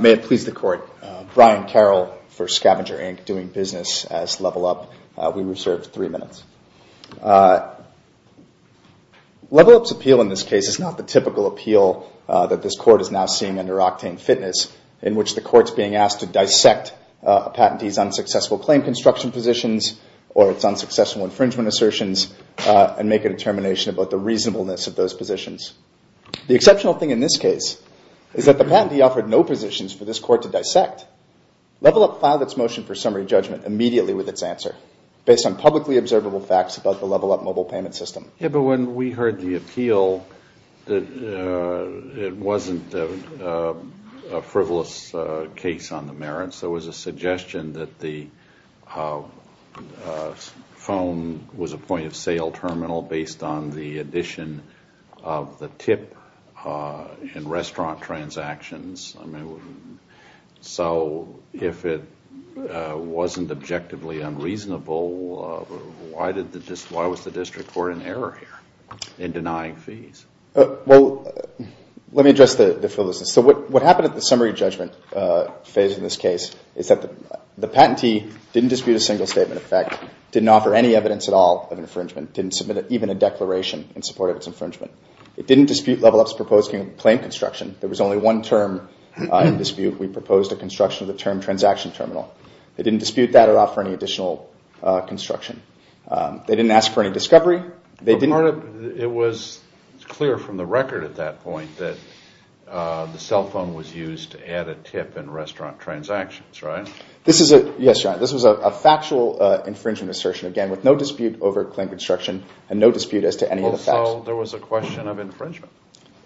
May it please the Court, Brian Carroll for SCVNGR, Inc. doing business as Level Up. We reserve three minutes. Level Up's appeal in this case is not the typical appeal that this Court is now seeing under Octane Fitness, in which the Court's being asked to dissect a patentee's unsuccessful claim construction positions or its unsuccessful infringement assertions and make a determination about the reasonableness of those positions. The exceptional thing in this case is that the patentee offered no positions for this Court to dissect. Level Up filed its motion for summary judgment immediately with its answer based on publicly observable facts about the Level Up mobile payment system. Yeah, but when we heard the appeal, it wasn't a frivolous case on the merits. There was a suggestion that the phone was a point-of-sale terminal based on the addition of the tip in restaurant transactions. So if it wasn't objectively unreasonable, why was the District Court in error here in denying fees? Well, let me address the frivolousness. So what happened at the summary judgment phase in this case is that the patentee didn't dispute a single statement of fact, didn't offer any evidence at all of infringement, didn't submit even a declaration in support of its infringement. It didn't dispute Level Up's proposed claim construction. There was only one term in dispute. We proposed a construction of the term transaction terminal. They didn't dispute that or offer any additional construction. They didn't ask for any discovery. It was clear from the record at that point that the cell phone was used to add a tip in restaurant transactions, right? Yes, Your Honor. This was a factual infringement assertion, again, with no dispute over claim construction and no dispute as to any of the facts. So there was a question of infringement?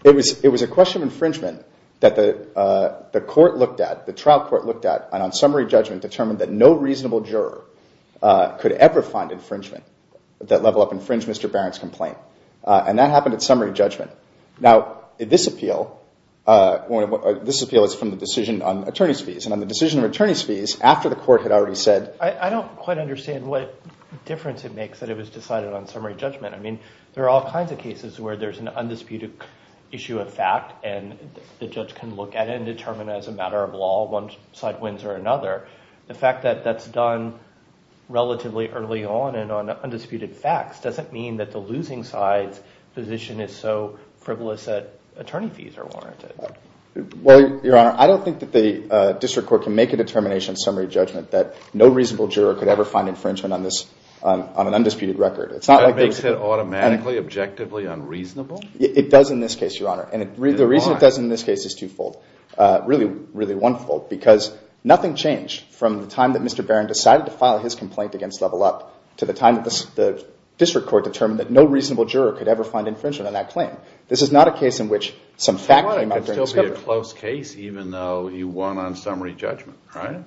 It was a question of infringement that the court looked at, the trial court looked at, and on summary judgment determined that no reasonable juror could ever find infringement that Level Up infringed Mr. Barron's complaint. And that happened at summary judgment. Now, this appeal is from the decision on attorney's fees. And on the decision of attorney's fees, after the court had already said- I don't quite understand what difference it makes that it was decided on summary judgment. I mean, there are all kinds of cases where there's an undisputed issue of fact and the fact that that's done relatively early on and on undisputed facts doesn't mean that the losing side's position is so frivolous that attorney fees are warranted. Well, Your Honor, I don't think that the district court can make a determination on summary judgment that no reasonable juror could ever find infringement on this, on an undisputed record. It's not like- That makes it automatically, objectively unreasonable? It does in this case, Your Honor. And the reason it does in this case is twofold. Really, really onefold. Because nothing changed from the time that Mr. Barron decided to file his complaint against Level Up to the time that the district court determined that no reasonable juror could ever find infringement on that claim. This is not a case in which some fact came out during the discovery. Your Honor, it could still be a close case even though he won on summary judgment, right?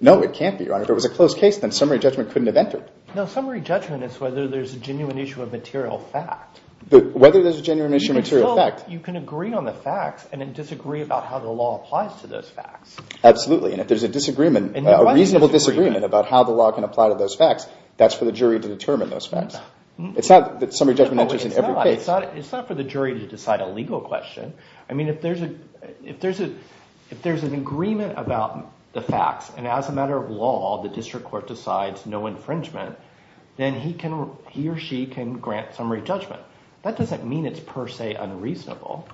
No, it can't be, Your Honor. If it was a close case, then summary judgment couldn't have entered. No, summary judgment is whether there's a genuine issue of material fact. Whether there's a genuine issue of material fact. You can agree on the facts and then disagree about how the law applies to those facts. Absolutely. And if there's a reasonable disagreement about how the law can apply to those facts, that's for the jury to determine those facts. It's not that summary judgment enters in every case. No, it's not. It's not for the jury to decide a legal question. I mean, if there's an agreement about the facts and as a matter of law, the district court decides no infringement, then he or she can grant summary judgment. That doesn't mean it's per se unreasonable.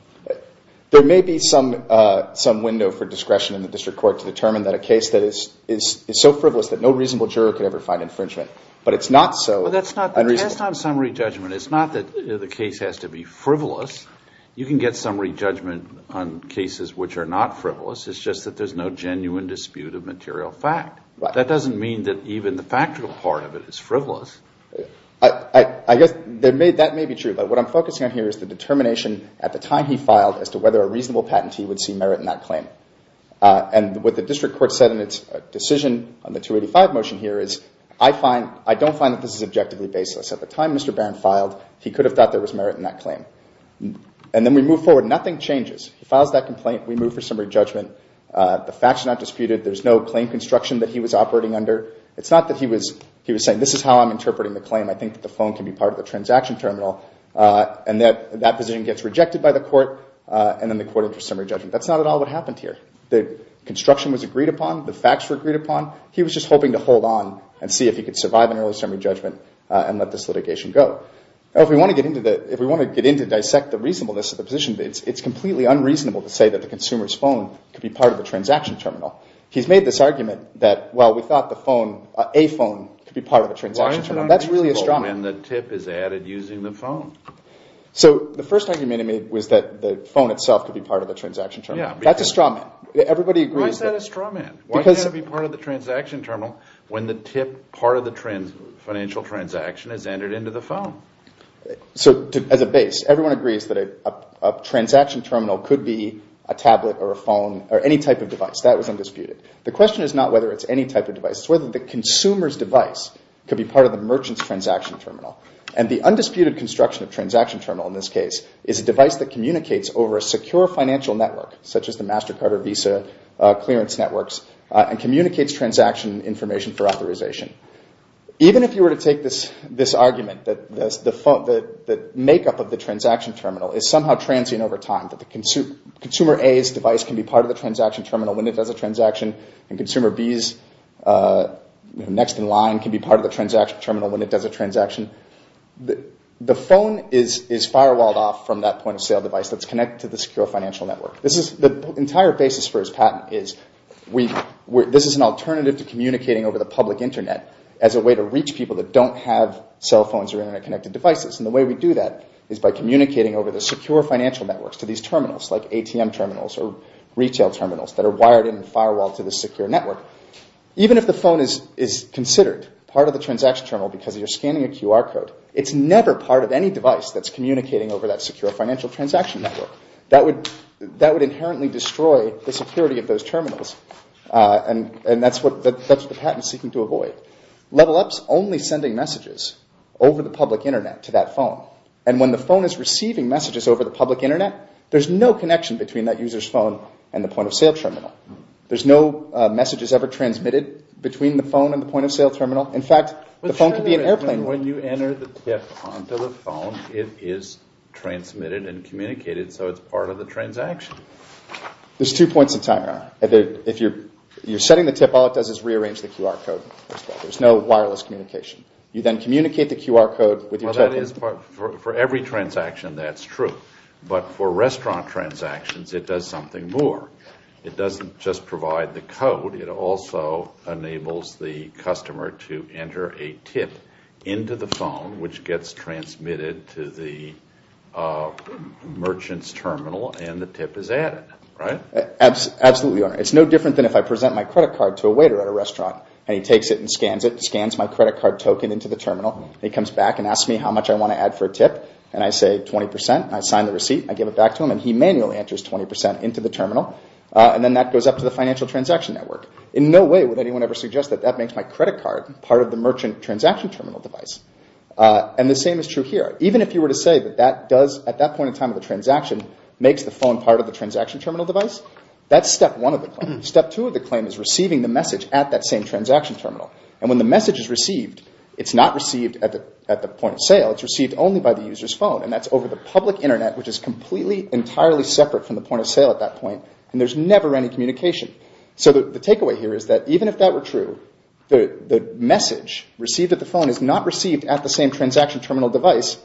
There may be some window for discretion in the district court to determine that a case that is so frivolous that no reasonable juror could ever find infringement. But it's not so unreasonable. But that's not the test on summary judgment. It's not that the case has to be frivolous. You can get summary judgment on cases which are not frivolous. It's just that there's no genuine dispute of material fact. That doesn't mean that even the factual part of it is frivolous. I guess that may be true. But what I'm focusing on here is the determination at the time he filed as to whether a reasonable patentee would see merit in that claim. And what the district court said in its decision on the 285 motion here is, I don't find that this is objectively baseless. At the time Mr. Barron filed, he could have thought there was merit in that claim. And then we move forward. Nothing changes. He files that complaint. We move for summary judgment. It's not that he was saying, this is how I'm interpreting the claim. I think that the phone can be part of the transaction terminal. And that position gets rejected by the court. And then the court enters summary judgment. That's not at all what happened here. The construction was agreed upon. The facts were agreed upon. He was just hoping to hold on and see if he could survive an early summary judgment and let this litigation go. If we want to get into dissect the reasonableness of the position, it's completely unreasonable to say that the consumer's phone could be part of the transaction terminal. He's made this argument that, well, we thought the phone, a phone, could be part of the transaction terminal. That's really a straw man. Why is it unreasonable when the TIP is added using the phone? So the first argument he made was that the phone itself could be part of the transaction terminal. That's a straw man. Everybody agrees that. Why is that a straw man? Why does it have to be part of the transaction terminal when the TIP part of the financial transaction is entered into the phone? So as a base, everyone agrees that a transaction terminal could be a tablet or a phone or any type of device. That was undisputed. The question is not whether it's any type of device. It's whether the consumer's device could be part of the merchant's transaction terminal. And the undisputed construction of a transaction terminal in this case is a device that communicates over a secure financial network, such as the MasterCard or Visa clearance networks, and communicates transaction information for authorization. Even if you were to take this argument that the makeup of the transaction terminal is somehow transient over time, that consumer A's device can be part of the transaction terminal when it does a transaction, and consumer B's next-in-line can be part of the transaction terminal when it does a transaction, the phone is firewalled off from that point-of-sale device that's connected to the secure financial network. The entire basis for his patent is this is an alternative to communicating over the public Internet as a way to reach people that don't have cell phones or Internet-connected devices. And the way we do that is by communicating over the secure financial networks to these terminals, like ATM terminals or retail terminals that are wired in and firewalled to the secure network. Even if the phone is considered part of the transaction terminal because you're scanning a QR code, it's never part of any device that's communicating over that secure financial transaction network. That would inherently destroy the security of those terminals. And that's what the patent is seeking to avoid. Level-up is only sending messages over the public Internet to that phone. And when the phone is receiving messages over the public Internet, there's no connection between that user's phone and the point-of-sale terminal. There's no messages ever transmitted between the phone and the point-of-sale terminal. In fact, the phone could be an airplane. When you enter the tip onto the phone, it is transmitted and communicated, so it's part of the transaction. There's two points in time. If you're setting the tip, all it does is rearrange the QR code. There's no wireless communication. You then communicate the QR code with your token. For every transaction, that's true. But for restaurant transactions, it does something more. It doesn't just provide the code. It also enables the customer to enter a tip into the phone, which gets transmitted to the merchant's terminal, and the tip is added. Absolutely, Your Honor. It's no different than if I present my credit card to a waiter at a restaurant, and he takes it and scans it, scans my credit card token into the terminal, and he comes back and asks me how much I want to add for a tip, and I say 20%, and I sign the receipt, and I give it back to him, and he manually enters 20% into the terminal, and then that goes up to the financial transaction network. In no way would anyone ever suggest that that makes my credit card part of the merchant transaction terminal device. And the same is true here. Even if you were to say that that does, at that point in time of the transaction, makes the phone part of the transaction terminal device, that's step one of the claim. Step two of the claim is receiving the message at that same transaction terminal. And when the message is received, it's not received at the point of sale, it's received only by the user's phone, and that's over the public internet, which is completely entirely separate from the point of sale at that point, and there's never any communication. So the takeaway here is that even if that were true, the message received at the phone is not received at the same transaction terminal device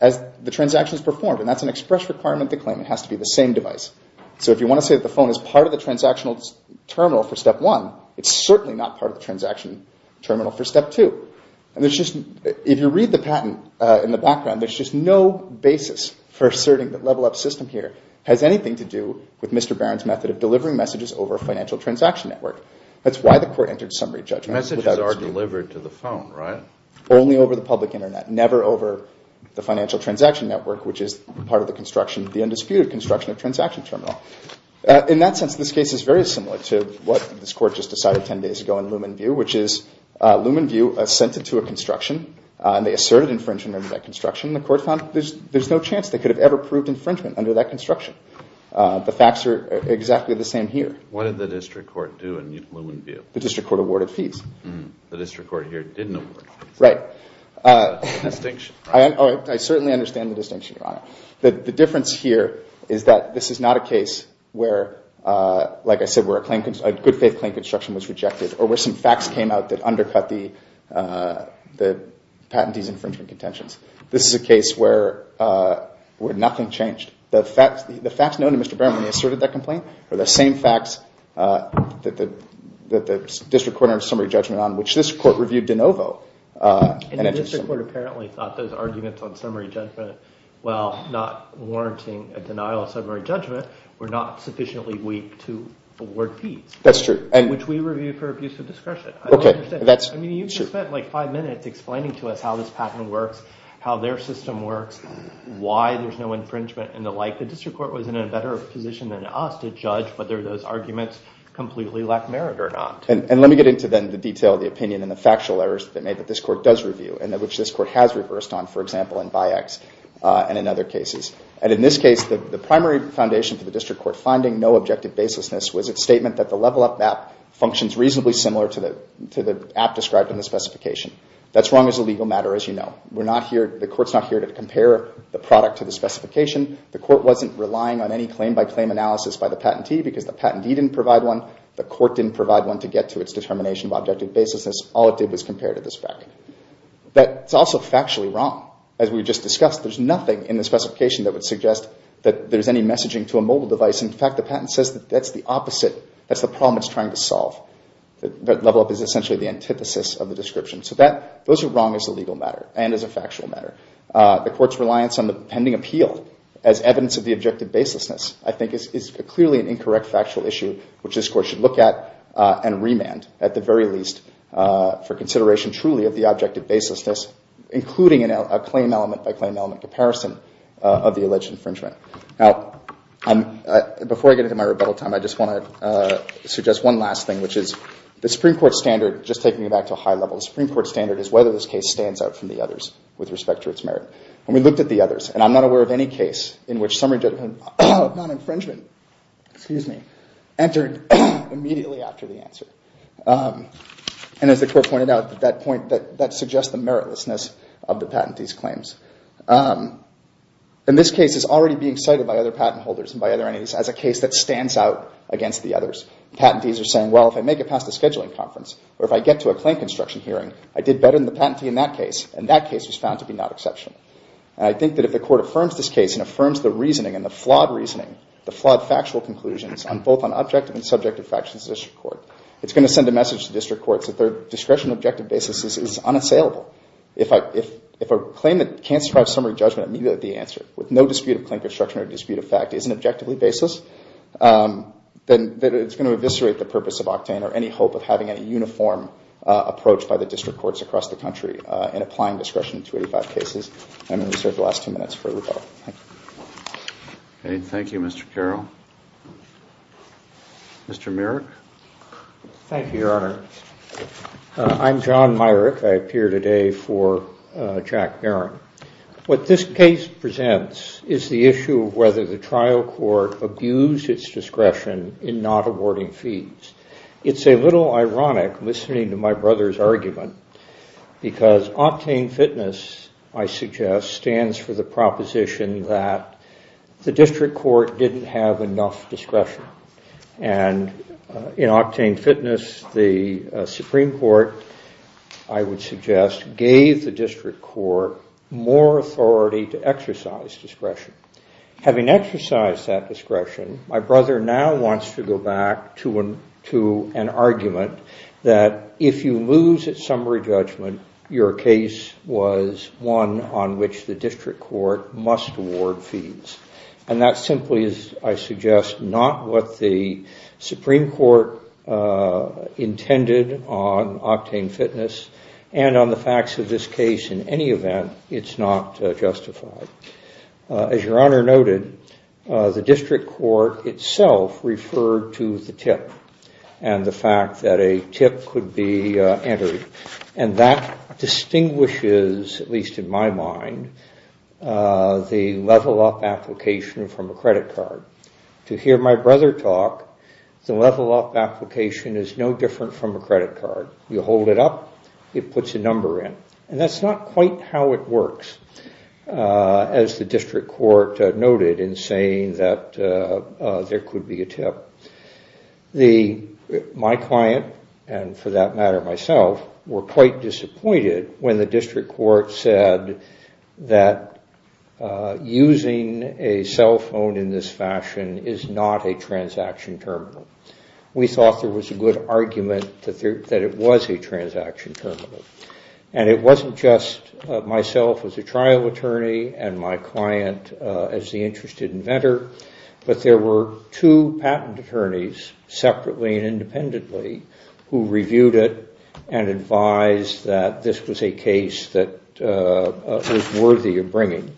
as the transaction is performed, and that's an express requirement to claim, it has to be the same device. So if you want to say that the phone is part of the transactional terminal for step one, it's certainly not part of the transaction terminal for step two. And there's just, if you read the patent in the background, there's just no basis for asserting that Level Up's system here has anything to do with Mr. Barron's method of delivering messages over a financial transaction network. That's why the court entered summary judgment. Messages are delivered to the phone, right? Only over the public internet. Never over the financial transaction network, which is part of the construction, the undisputed construction of transaction terminal. In that sense, this case is very similar to what this court just decided ten days ago in Lumenview, which is Lumenview sent it to a construction, and they asserted infringement under that construction, and the court found there's no chance they could have ever proved infringement under that construction. The facts are exactly the same here. What did the district court do in Lumenview? The district court awarded fees. The district court here didn't award fees. Right. Distinction. Oh, I certainly understand the distinction, Your Honor. The difference here is that this is not a case where, like I said, where a good faith claim construction was rejected, or where some facts came out that undercut the patentee's infringement contentions. This is a case where nothing changed. The facts known to Mr. Barron when he asserted that complaint are the same facts that the district court reviewed de novo. And the district court apparently thought those arguments on summary judgment, while not warranting a denial of summary judgment, were not sufficiently weak to award fees. That's true. Which we reviewed for abuse of discretion. Okay, that's true. I mean, you can spend like five minutes explaining to us how this patent works, how their system works, why there's no infringement, and the like. The district court was in a better position than us to judge whether those arguments completely lack merit or not. And let me get into, then, the detail of the opinion and the factual errors that this court does review, and which this court has reversed on, for example, in Bi-X and in other cases. And in this case, the primary foundation for the district court finding no objective baselessness was its statement that the level up map functions reasonably similar to the app described in the specification. That's wrong as a legal matter, as you know. The court's not here to compare the product to the specification. The court wasn't relying on any claim-by-claim analysis by the patentee, because the patentee didn't provide one. The court didn't provide one to get to its determination of objective baselessness. All it did was compare to the spec. That's also factually wrong. As we just discussed, there's nothing in the specification that would suggest that there's any messaging to a mobile device. In fact, the patent says that that's the opposite. That's the problem it's trying to solve. That level up is essentially the antithesis of the description. So those are wrong as a legal matter and as a factual matter. The court's reliance on the pending appeal as evidence of the objective baselessness, I think, is clearly an incorrect factual issue, which this court should look at and remand, at the very least, for consideration truly of the objective baselessness, including a claim-element-by-claim-element comparison of the alleged infringement. Now, before I get into my rebuttal time, I just want to suggest one last thing, which is the Supreme Court standard, just taking it back to a high level, the Supreme Court standard is whether this case stands out from the others with respect to its merit. And we looked at the others. And I'm not aware of any case in which summary judgment of non-infringement entered immediately after the answer. And as the court pointed out, that suggests the meritlessness of the patentee's claims. In this case, it's already being cited by other patent holders and by other entities as a case that stands out against the others. Patentees are saying, well, if I make it past the scheduling conference, or if I get to a claim construction hearing, I did better than the patentee in that case. And that case was found to be not exceptional. And I think that if the court affirms this case and affirms the reasoning and the flawed reasoning, the flawed factual conclusions, both on objective and subjective facts in the district court, it's going to send a message to district courts that their discretion and objective basis is unassailable. If a claim that can't survive summary judgment immediately at the answer, with no dispute of claim construction or dispute of fact, is an objectively baseless, then it's going to eviscerate the purpose of Octane or any hope of having a uniform approach by the district courts across the country in applying discretion to 85 cases. I'm going to reserve the last two minutes for rebuttal. Thank you. Thank you, Mr. Carroll. Mr. Myrick. Thank you, Your Honor. I'm John Myrick. I appear today for Jack Barron. What this case presents is the issue of whether the trial court abused its discretion in not awarding fees. It's a little ironic, listening to my brother's argument, because Octane Fitness, I suggest, stands for the proposition that the district court didn't have enough discretion. And in Octane Fitness, the Supreme Court, I would suggest, gave the district court more authority to exercise discretion. Having exercised that discretion, my brother now wants to go back to an argument that if you lose its summary judgment, your case was one on which the district court must award fees. And that simply is, I suggest, not what the Supreme Court intended on Octane Fitness and on the facts of this case in any event, it's not justified. As Your Honor noted, the district court itself referred to the tip and the fact that a tip could be entered. And that distinguishes, at least in my mind, the level up application from a credit card. To hear my brother talk, the level up application is no different from a credit card. You hold it up, it puts a number in. And that's not quite how it works, as the district court noted in saying that there could be a tip. My client, and for that matter myself, were quite disappointed when the district court said that using a cell phone in this fashion is not a transaction terminal. We thought there was a good argument that it was a transaction terminal. And it wasn't just myself as a trial attorney and my client as the interested inventor, but there were two patent attorneys, separately and independently, who reviewed it and advised that this was a case that was worthy of bringing.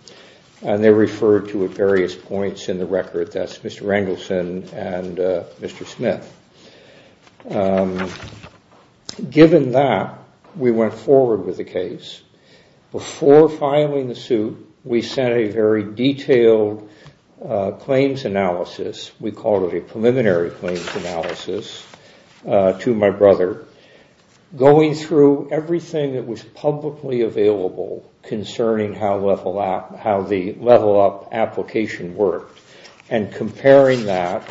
And they referred to various points in the record, that's Mr. Rangelston and Mr. Smith. Given that, we went forward with the case. Before filing the suit, we sent a very detailed claims analysis, we called it a preliminary claims analysis, to my brother, going through everything that was publicly available concerning how the level up application worked. And comparing that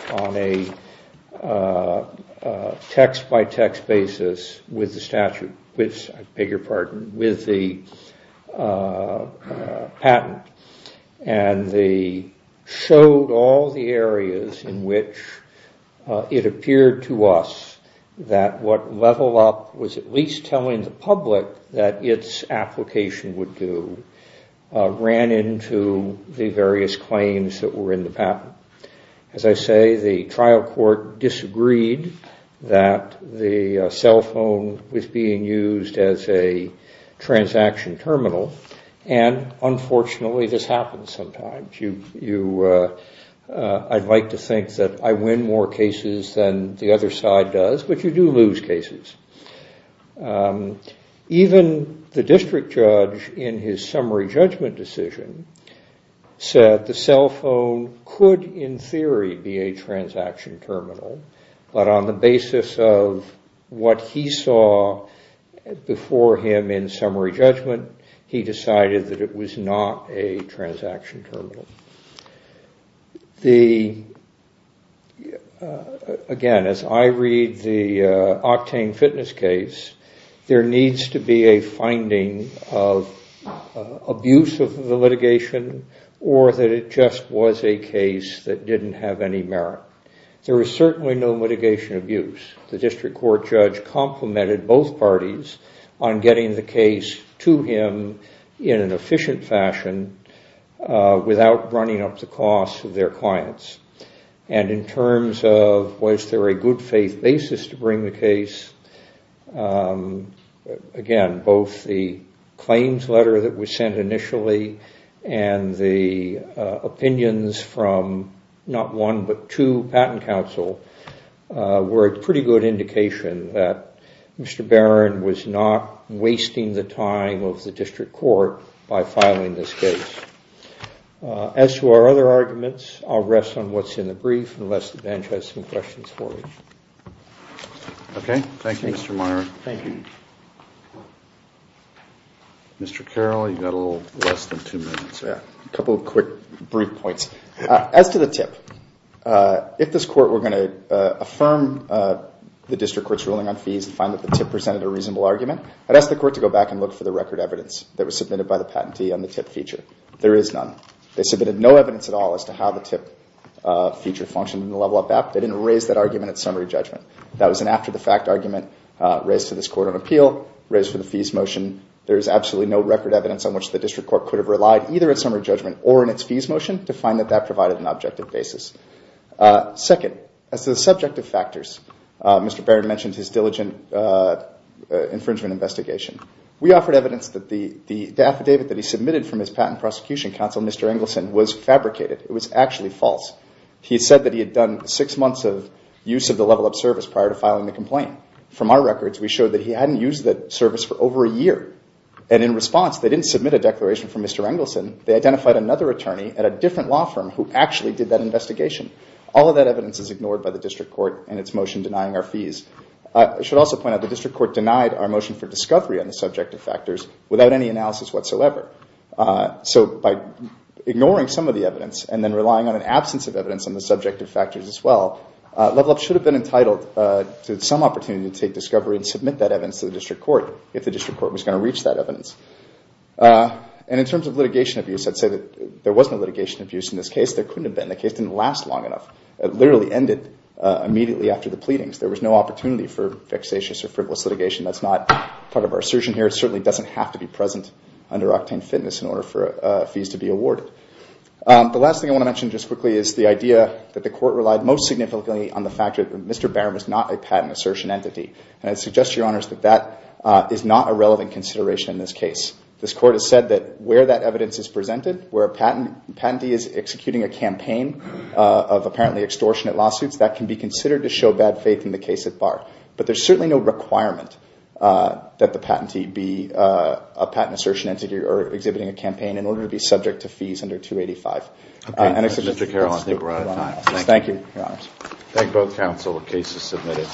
on a text-by-text basis with the statute, I beg your pardon, with the patent, and they showed all the areas in which it appeared to us that what level up was at least telling the public that its application would do, ran into the various claims that were in the patent. As I say, the trial court disagreed that the cell phone was being used as a transaction terminal, and unfortunately this happens sometimes. I'd like to think that I win more cases than the other side does, but you do lose cases. Even the district judge in his summary judgment decision said the cell phone could in theory be a transaction terminal, but on the basis of what he saw before him in summary judgment, he decided that it was not a transaction terminal. Again, as I read the Octane Fitness case, there needs to be a finding of abuse of the litigation, or that it just was a case that didn't have any merit. There was certainly no litigation abuse. The district court judge complimented both parties on getting the case to him in an efficient fashion without running up the costs of their clients. And in terms of was there a good faith basis to bring the case, again, both the claims letter that was sent initially and the opinions from not one but two patent counsel were a pretty good indication that Mr. Barron was not wasting the time of the district court by filing this case. As to our other arguments, I'll rest on what's in the brief, unless the bench has some questions for me. Okay. Thank you, Mr. Myron. Thank you. Mr. Carroll, you've got a little less than two minutes. Yeah. A couple of quick brief points. As to the TIP, if this court were going to affirm the district court's ruling on fees and find that the TIP presented a reasonable argument, I'd ask the court to go back and look for the record evidence that was submitted by the patentee on the TIP feature. There is none. They submitted no evidence at all as to how the TIP feature functioned in the level of that. They didn't raise that argument at summary judgment. That was an after-the-fact argument raised to this Court of Appeal, raised for the fees motion. There is absolutely no record evidence on which the district court could have relied either at summary judgment or in its fees motion to find that that provided an objective basis. Second, as to the subjective factors, Mr. Barron mentioned his diligent infringement investigation. We offered evidence that the affidavit that he submitted from his patent prosecution counsel, Mr. Engelson, was fabricated. It was actually false. He said that he had done six months of use of the level of service prior to filing the complaint. From our records, we showed that he hadn't used the service for over a year. And in response, they didn't submit a declaration from Mr. Engelson. They identified another attorney at a different law firm who actually did that investigation. All of that evidence is ignored by the district court in its motion denying our fees. I should also point out the district court denied our motion for discovery on the subjective factors without any analysis whatsoever. So by ignoring some of the evidence and then relying on an absence of evidence on the subjective factors as well, Level Up should have been entitled to some opportunity to take discovery and submit that evidence to the district court if the district court was going to reach that evidence. And in terms of litigation abuse, I'd say that there was no litigation abuse in this case. There couldn't have been. The case didn't last long enough. It literally ended immediately after the pleadings. There was no opportunity for vexatious or frivolous litigation. That's not part of our assertion here. It certainly doesn't have to be present under Octane Fitness in order for fees to be awarded. The last thing I want to mention just quickly is the idea that the court relied most significantly on the fact that Mr. Barron was not a patent assertion entity. And I'd suggest to your honors that that is not a relevant consideration in this case. This court has said that where that evidence is presented, where a patentee is executing a campaign of apparently extortionate lawsuits, that can be considered to show bad faith in the case at bar. But there's certainly no requirement that the patentee be a patent assertion entity or exhibiting a campaign in order to be subject to fees under 285. And I think we're out of time. Thank you, your honors. Thank both counsel. The case is submitted.